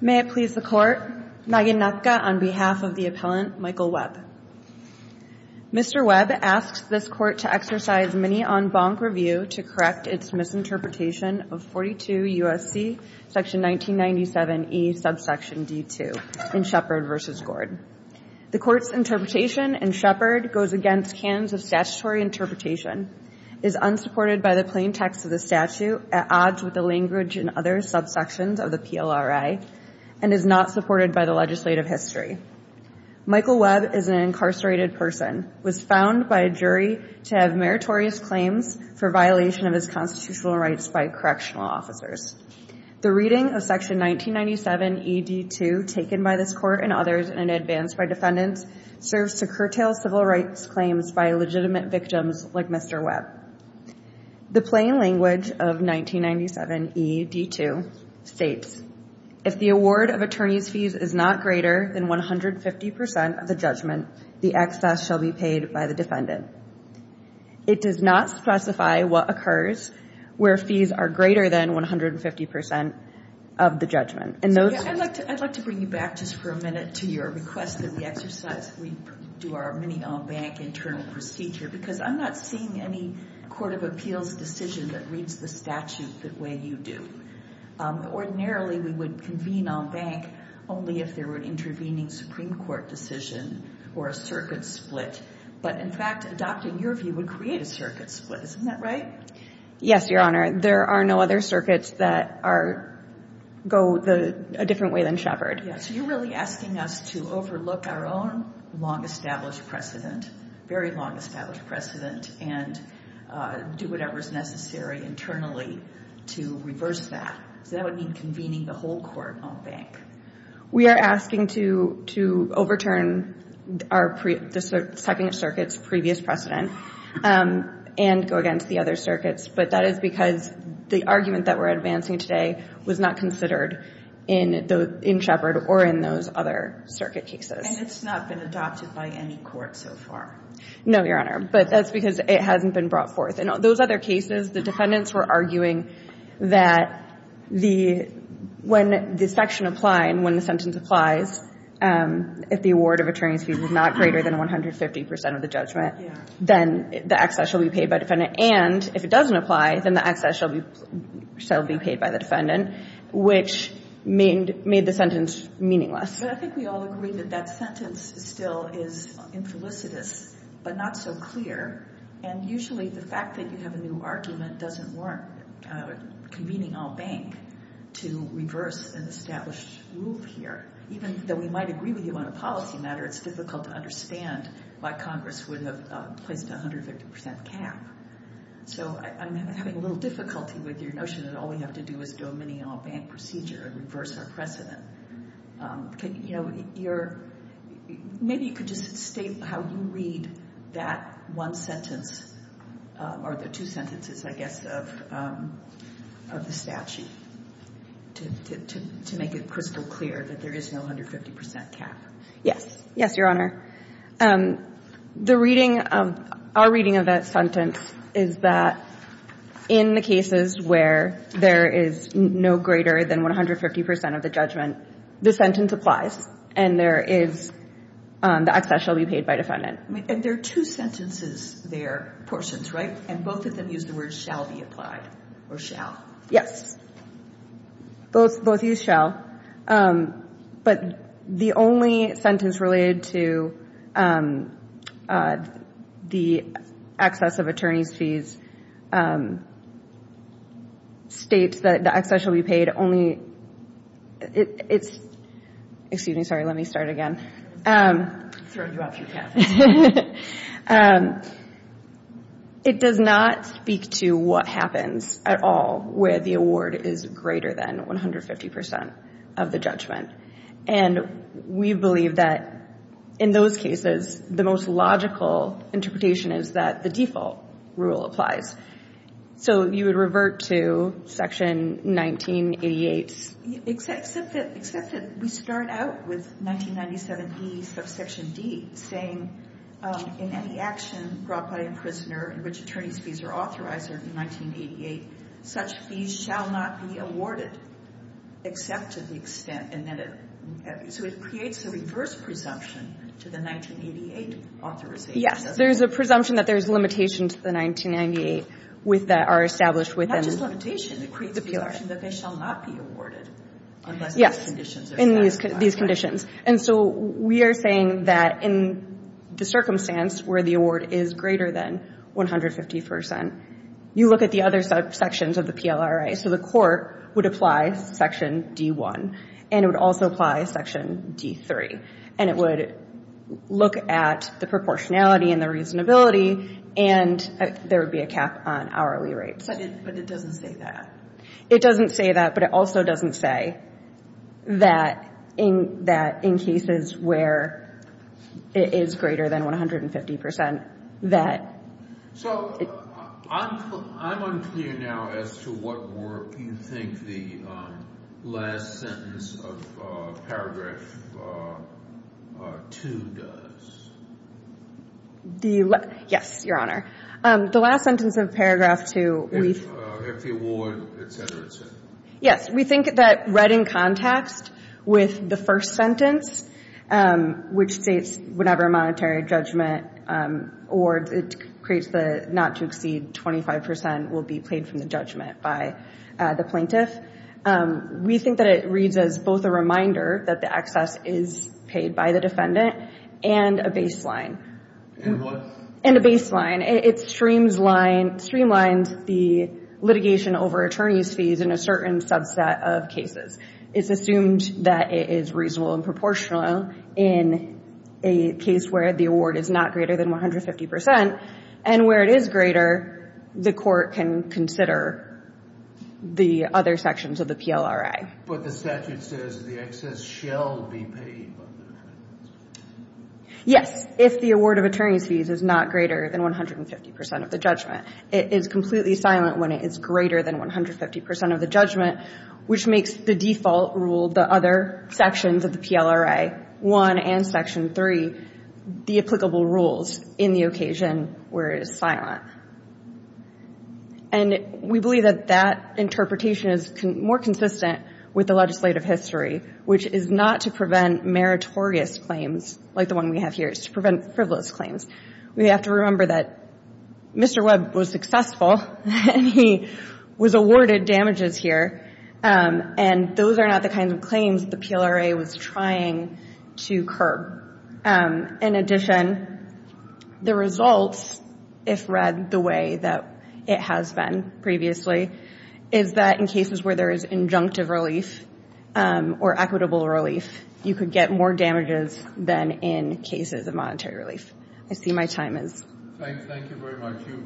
May it please the court, Naginatka on behalf of the appellant, Michael Webb. Mr. Webb asks this court to exercise mini en banc review to correct its misinterpretation of 42 U.S.C. section 1997E subsection D2 in Shepard v. Gord. The court's interpretation in Shepard goes against canons of statutory interpretation, is unsupported by the plain text of the statute at odds with the language and other subsections of the PLRA, and is not supported by the legislative history. Michael Webb is an incarcerated person, was found by a jury to have meritorious claims for violation of his constitutional rights by correctional officers. The reading of section 1997E D2 taken by this court and others and advanced by defendants serves to curtail civil rights claims by legitimate victims like Mr. Webb. The plain language of 1997E D2 states, if the award of attorney's fees is not greater than 150% of the judgment, the excess shall be paid by the defendant. It does not specify what occurs where fees are greater than 150% of the judgment. And those... I'd like to bring you back just for a minute to your request of the exercise we do our mini en banc internal procedure, because I'm not seeing any court of appeals decision that reads the statute the way you do. Ordinarily we would convene en banc only if there were an intervening Supreme Court decision or a circuit split. But in fact, adopting your view would create a circuit split. Isn't that right? Yes, Your Honor. There are no other circuits that go a different way than Shepard. Yeah. So you're really asking us to overlook our own long-established precedent, very long-established precedent, and do whatever is necessary internally to reverse that. So that would mean convening the whole court en banc. We are asking to overturn the Second Circuit's previous precedent and go against the other circuits. But that is because the argument that we're advancing today was not considered in Shepard or in those other circuit cases. And it's not been adopted by any court so far? No, Your Honor. But that's because it hasn't been brought forth. In those other cases, the defendants were arguing that when the section apply and when the sentence applies, if the award of attorney's fees is not greater than 150 percent of the judgment, then the excess shall be paid by the defendant. And if it doesn't apply, then the excess shall be paid by the defendant, which made the sentence meaningless. But I think we all agree that that sentence still is infelicitous, but not so clear. And usually the fact that you have a new argument doesn't warrant convening en banc to reverse an established rule here. Even though we might agree with you on a policy matter, it's difficult to understand why Congress would have placed a 150 percent cap. So I'm having a little difficulty with your notion that all we have to do is do a mini en banc procedure and reverse our precedent. Maybe you could just state how you read that one sentence, or the two sentences, I guess, of the statute to make it crystal clear that there is no 150 percent cap. Yes, Your Honor. The reading, our reading of that sentence is that in the cases where there is no greater than 150 percent of the judgment, the sentence applies and there is the excess shall be paid by defendant. And there are two sentences there, portions, right? And both of them use the word shall be applied, or shall. Yes. Both use shall. But the only sentence related to the excess of attorney's fees states that the excess shall be paid only, it's, excuse me, sorry, let me start again. It does not speak to what happens at all where the award is greater than 150 percent of the judgment. And we believe that in those cases, the most logical interpretation is that the default rule applies. So you would revert to Section 1988's? Except that we start out with 1997D, subsection D, saying, in any action brought by a prisoner in which attorney's fees are authorized under 1988, such fees shall not be awarded except to the extent, and then it, so it creates a reverse presumption to the 1988 authorization. Yes. There is a presumption that there is limitation to the 1998 with that are established within the PLRA. Not just limitation. It creates a presumption that they shall not be awarded unless these conditions are satisfied. Yes. In these conditions. And so we are saying that in the circumstance where the award is greater than 150 percent, you look at the other subsections of the PLRA. So the court would apply Section D1, and it would also apply Section D3. And it would look at the proportionality and the reasonability, and there would be a cap on hourly rates. But it doesn't say that. It doesn't say that. But it also doesn't say that in cases where it is greater than 150 percent, that. So I'm unclear now as to what work you think the last sentence of paragraph 2 does. The last, yes, Your Honor. The last sentence of paragraph 2, we've. If the award, et cetera, et cetera. Yes. We think that right in context with the first sentence, which states whenever a monetary judgment awards, it creates the not to exceed 25 percent will be paid from the judgment by the plaintiff. We think that it reads as both a reminder that the excess is paid by the defendant and a baseline. And what? And a baseline. It streamlines the litigation over attorney's fees in a certain subset of cases. It's assumed that it is reasonable and proportional in a case where the award is not greater than 150 percent. And where it is greater, the court can consider the other sections of the PLRA. But the statute says the excess shall be paid. Yes. If the award of attorney's fees is not greater than 150 percent of the judgment. It is completely silent when it is greater than 150 percent of the judgment, which makes the default rule, the other sections of the PLRA, 1 and section 3, the applicable rules in the occasion where it is silent. And we believe that that interpretation is more consistent with the legislative history, which is not to prevent meritorious claims like the one we have here. It's to prevent frivolous claims. We have to remember that Mr. Webb was successful and he was awarded damages here. And those are not the kinds of claims the PLRA was trying to curb. In addition, the results, if read the way that it has been previously, is that in cases where there is injunctive relief or equitable relief, you could get more damages than in cases of monetary relief. I see my time is up. Thank you very much. You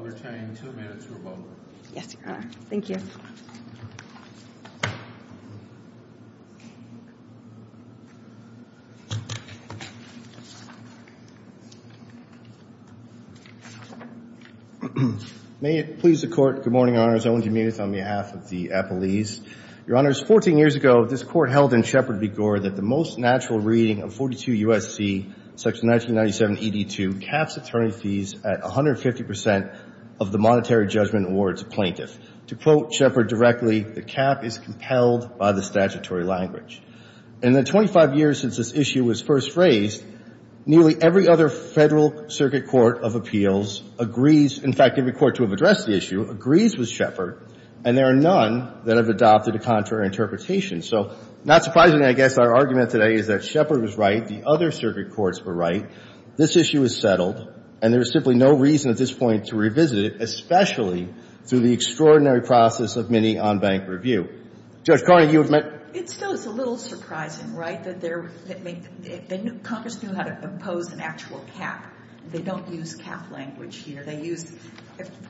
retain two minutes for a vote. Yes, Your Honor. Thank you. May it please the Court. Good morning, Your Honors. Owen Jimenez on behalf of the Appalachians. Your Honors, 14 years ago, this Court held in Shepard v. Gore that the most natural reading of 42 U.S.C. section 1997ED2 caps attorney fees at 150 percent of the monetary judgment awards a plaintiff. To quote Shepard directly, the cap is compelled by the statutory language. In the 25 years since this issue was first phrased, nearly every other Federal Circuit Court of Appeals agrees, in fact, every court to have addressed the issue agrees with Shepard, and there are none that have adopted a contrary interpretation. So not surprisingly, I guess, our argument today is that Shepard was right, the other circuit courts were right, this issue is settled, and there is simply no reason at this point to revisit it, especially through the extraordinary process of mini on-bank review. Judge Carney, you admit? It still is a little surprising, right, that Congress knew how to impose an actual cap. They don't use cap language here. They use,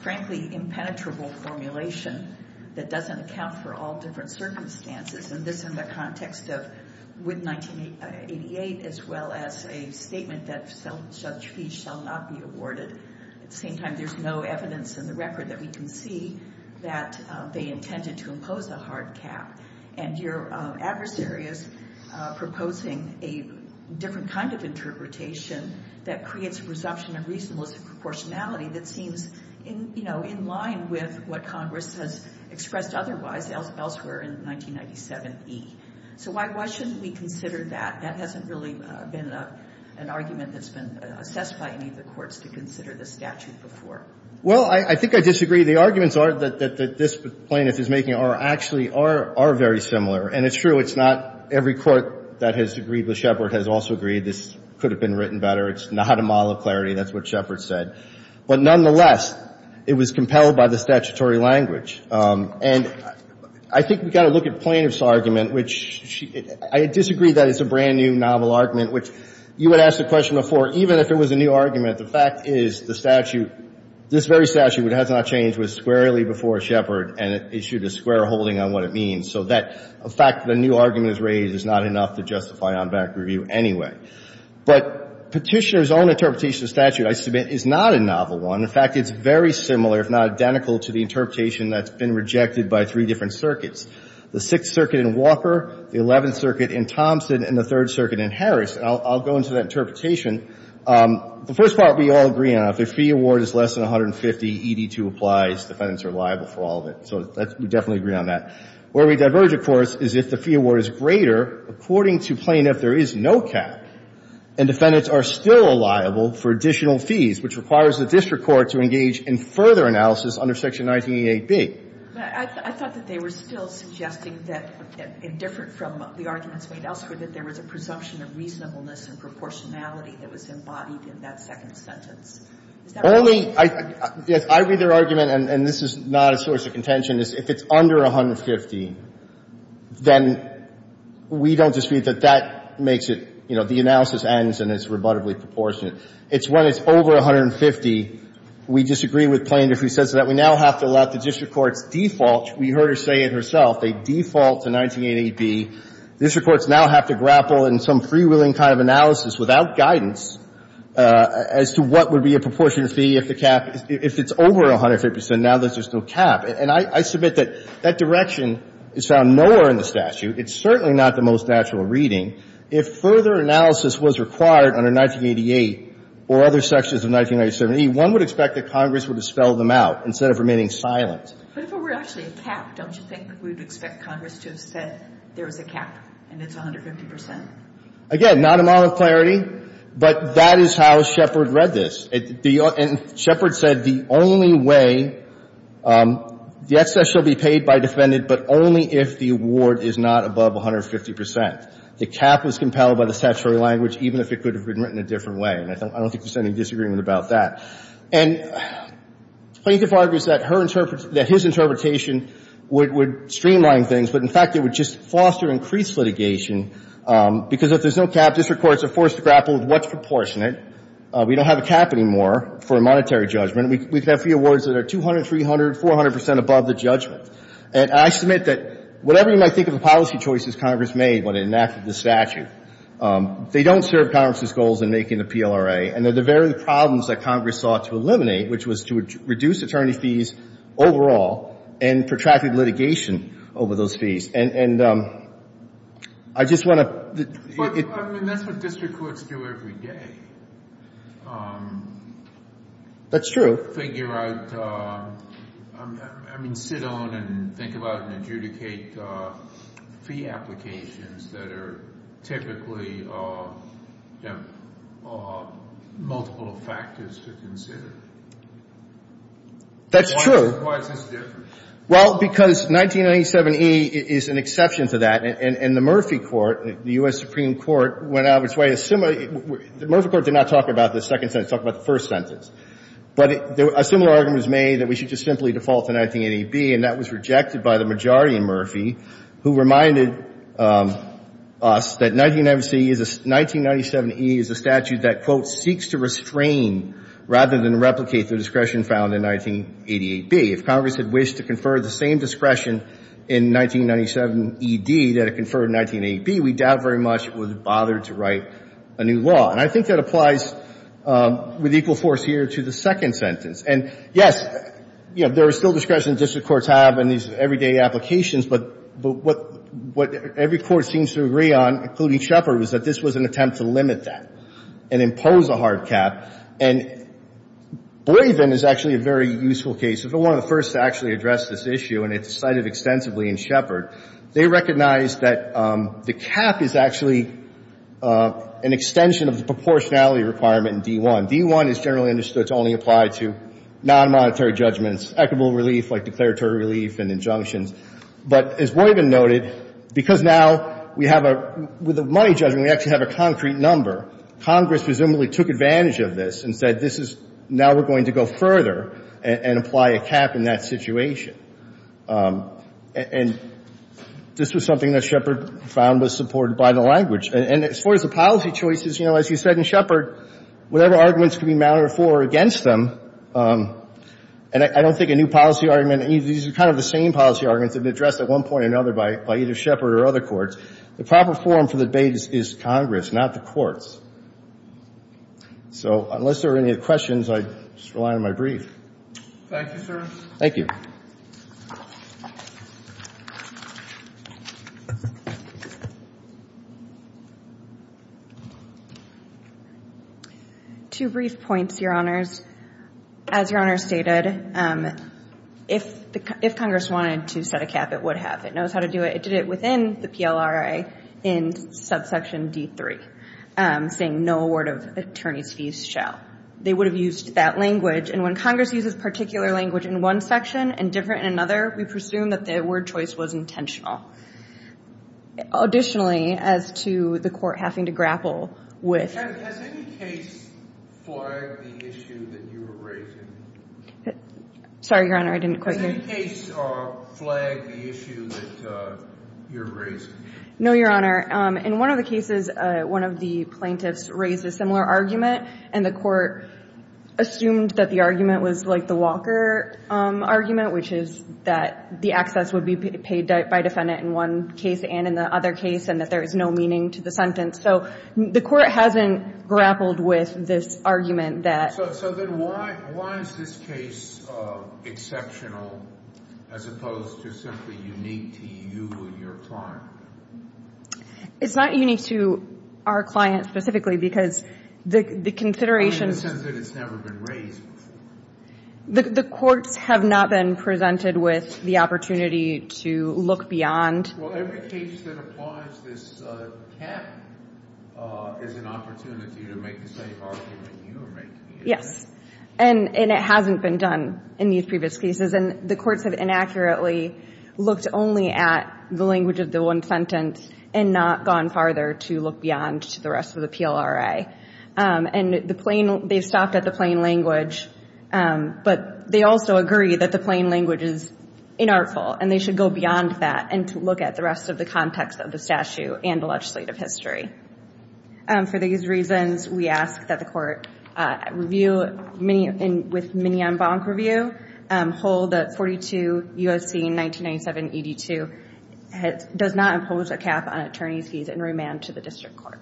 frankly, impenetrable formulation that doesn't account for all different circumstances, and this in the context of, with 1988, as well as a statement that such fees shall not be awarded. At the same time, there's no evidence in the record that we can see that they intended to impose a hard cap. And your adversary is proposing a different kind of interpretation that creates a presumption of reasonableness and proportionality that seems, you know, in line with what Congress has expressed otherwise elsewhere in 1997E. So why shouldn't we consider that? That hasn't really been an argument that's been assessed by any of the courts to consider the statute before. Well, I think I disagree. The arguments that this plaintiff is making actually are very similar, and it's true, it's not every court that has agreed with Shepard has also agreed this could have been written better. It's not a model of clarity. That's what Shepard said. But nonetheless, it was compelled by the statutory language. And I think we've got to look at the plaintiff's argument, which I disagree that it's a brand-new novel argument, which you had asked the question before. Even if it was a new argument, the fact is the statute, this very statute, which has not changed, was squarely before Shepard, and it issued a square holding on what it means. So that fact that a new argument is raised is not enough to justify on-back review anyway. But Petitioner's own interpretation of the statute, I submit, is not a novel one. In fact, it's very similar, if not identical, to the interpretation that's been rejected by three different circuits, the Sixth Circuit in Walker, the Eleventh Circuit in Thompson, and the Third Circuit in Harris. And I'll go into that interpretation. The first part we all agree on. If the fee award is less than 150, ED2 applies, defendants are liable for all of it. So we definitely agree on that. Where we diverge, of course, is if the fee award is greater, according to plaintiff, there is no cap, and defendants are still liable for additional fees, which requires the district court to engage in further analysis under Section 1988B. But I thought that they were still suggesting that, indifferent from the arguments made elsewhere, that there was a presumption of reasonableness and proportionality that was embodied in that second sentence. Only, yes, I read their argument, and this is not a source of contention, is if it's under 150, then we don't dispute that that makes it, you know, the analysis ends and it's rebuttably proportionate. It's when it's over 150, we disagree with plaintiff who says that we now have to allow the district court's default. We heard her say it herself. They default to 1988B. District courts now have to grapple in some freewheeling kind of analysis without guidance as to what would be a proportionate fee if the cap, if it's over 150%, now there's just no cap. And I submit that that direction is found nowhere in the statute. It's certainly not the most natural reading. If further analysis was required under 1988 or other sections of 1997E, one would expect that Congress would have spelled them out instead of remaining silent. But if it were actually a cap, don't you think we'd expect Congress to have said there was a cap and it's 150%? Again, not a model of clarity, but that is how Shepard read this. And Shepard said the only way, the excess shall be paid by defendant but only if the award is not above 150%. The cap was compelled by the statutory language even if it could have been written a different way. And I don't think there's any disagreement about that. And plaintiff argues that her interpretation, that his interpretation would streamline things, but in fact it would just foster increased litigation because if there's no cap, district courts are forced to grapple with what's proportionate. We don't have a cap anymore for a monetary judgment. We can have three awards that are 200, 300, 400% above the judgment. And I submit that whatever you might think of the policy choices Congress made when it enacted the statute, they don't serve Congress's goals in making the PLRA. And they're the very problems that Congress sought to eliminate, which was to reduce attorney fees overall and protracted litigation over those fees. And I just want to... I mean, that's what district courts do every day. That's true. Figure out, I mean, sit on and think about and adjudicate fee applications that are typically multiple factors to consider. That's true. Why is this different? Well, because 1997E is an exception to that. And the Murphy Court, the U.S. Supreme Court, went out with... Murphy Court did not talk about the second sentence. It talked about the first sentence. But a similar argument was made that we should just simply default to 1988B, and that was rejected by the majority in Murphy, who reminded us that 1997E is a statute that, quote, seeks to restrain rather than replicate the discretion found in 1988B. If Congress had wished to confer the same discretion in 1997ED that it conferred in 1988B, we doubt very much it would have bothered to write a new law. And I think that applies with equal force here to the second sentence. And, yes, you know, there is still discretion that district courts have in these everyday applications. But what every court seems to agree on, including Shepard, was that this was an attempt to limit that and impose a hard cap. And Boivin is actually a very useful case. It was one of the first to actually address this issue, and it's cited extensively in Shepard. They recognized that the cap is actually an extension of the proportionality requirement in D.I. D.I. is generally understood to only apply to nonmonetary judgments, equitable relief like declaratory relief and injunctions. But as Boivin noted, because now we have a – with a money judgment, we actually have a concrete number. Congress presumably took advantage of this and said, this is – now we're going to go further and apply a cap in that situation. And this was something that Shepard found was supported by the language. And as far as the policy choices, you know, as you said in Shepard, whatever arguments can be mounted for or against them – and I don't think a new policy argument – these are kind of the same policy arguments that have been addressed at one point or another by either Shepard or other courts. The proper forum for the debate is Congress, not the courts. So unless there are any questions, I just rely on my brief. Thank you, sir. Thank you. Two brief points, Your Honors. As Your Honor stated, if Congress wanted to set a cap, it would have. It knows how to do it. It did it within the PLRA in subsection D3, saying no award of attorney's fees shall. They would have used that language. And when Congress uses particular language in one section and different in another, we presume that the word choice was intentional. Additionally, as to the court having to grapple with – Has any case flagged the issue that you were raising? Sorry, Your Honor. I didn't quite hear. Has any case flagged the issue that you were raising? No, Your Honor. In one of the cases, one of the plaintiffs raised a similar argument, and the court assumed that the argument was like the Walker argument, which is that the access would be paid by defendant in one case and in the other case, and that there is no meaning to the sentence. So the court hasn't grappled with this argument that – So then why is this case exceptional as opposed to simply unique to you and your client? It's not unique to our client specifically because the consideration – In the sense that it's never been raised before. The courts have not been presented with the opportunity to look beyond. Well, every case that applies this cap is an opportunity to make the same Yes. And it hasn't been done in these previous cases, and the courts have inaccurately looked only at the language of the one sentence and not gone farther to look beyond to the rest of the PLRA. And they've stopped at the plain language, but they also agree that the plain language is inartful, and they should go beyond that and to look at the rest of the context of the statute and the legislative history. For these reasons, we ask that the court review – With Mignon-Bonk review, hold that 42 U.S.C. 1997-82 does not impose a cap on attorney's fees and remand to the district court.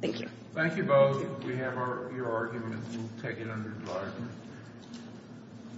Thank you. Thank you both. We have your argument. We'll take it under discussion.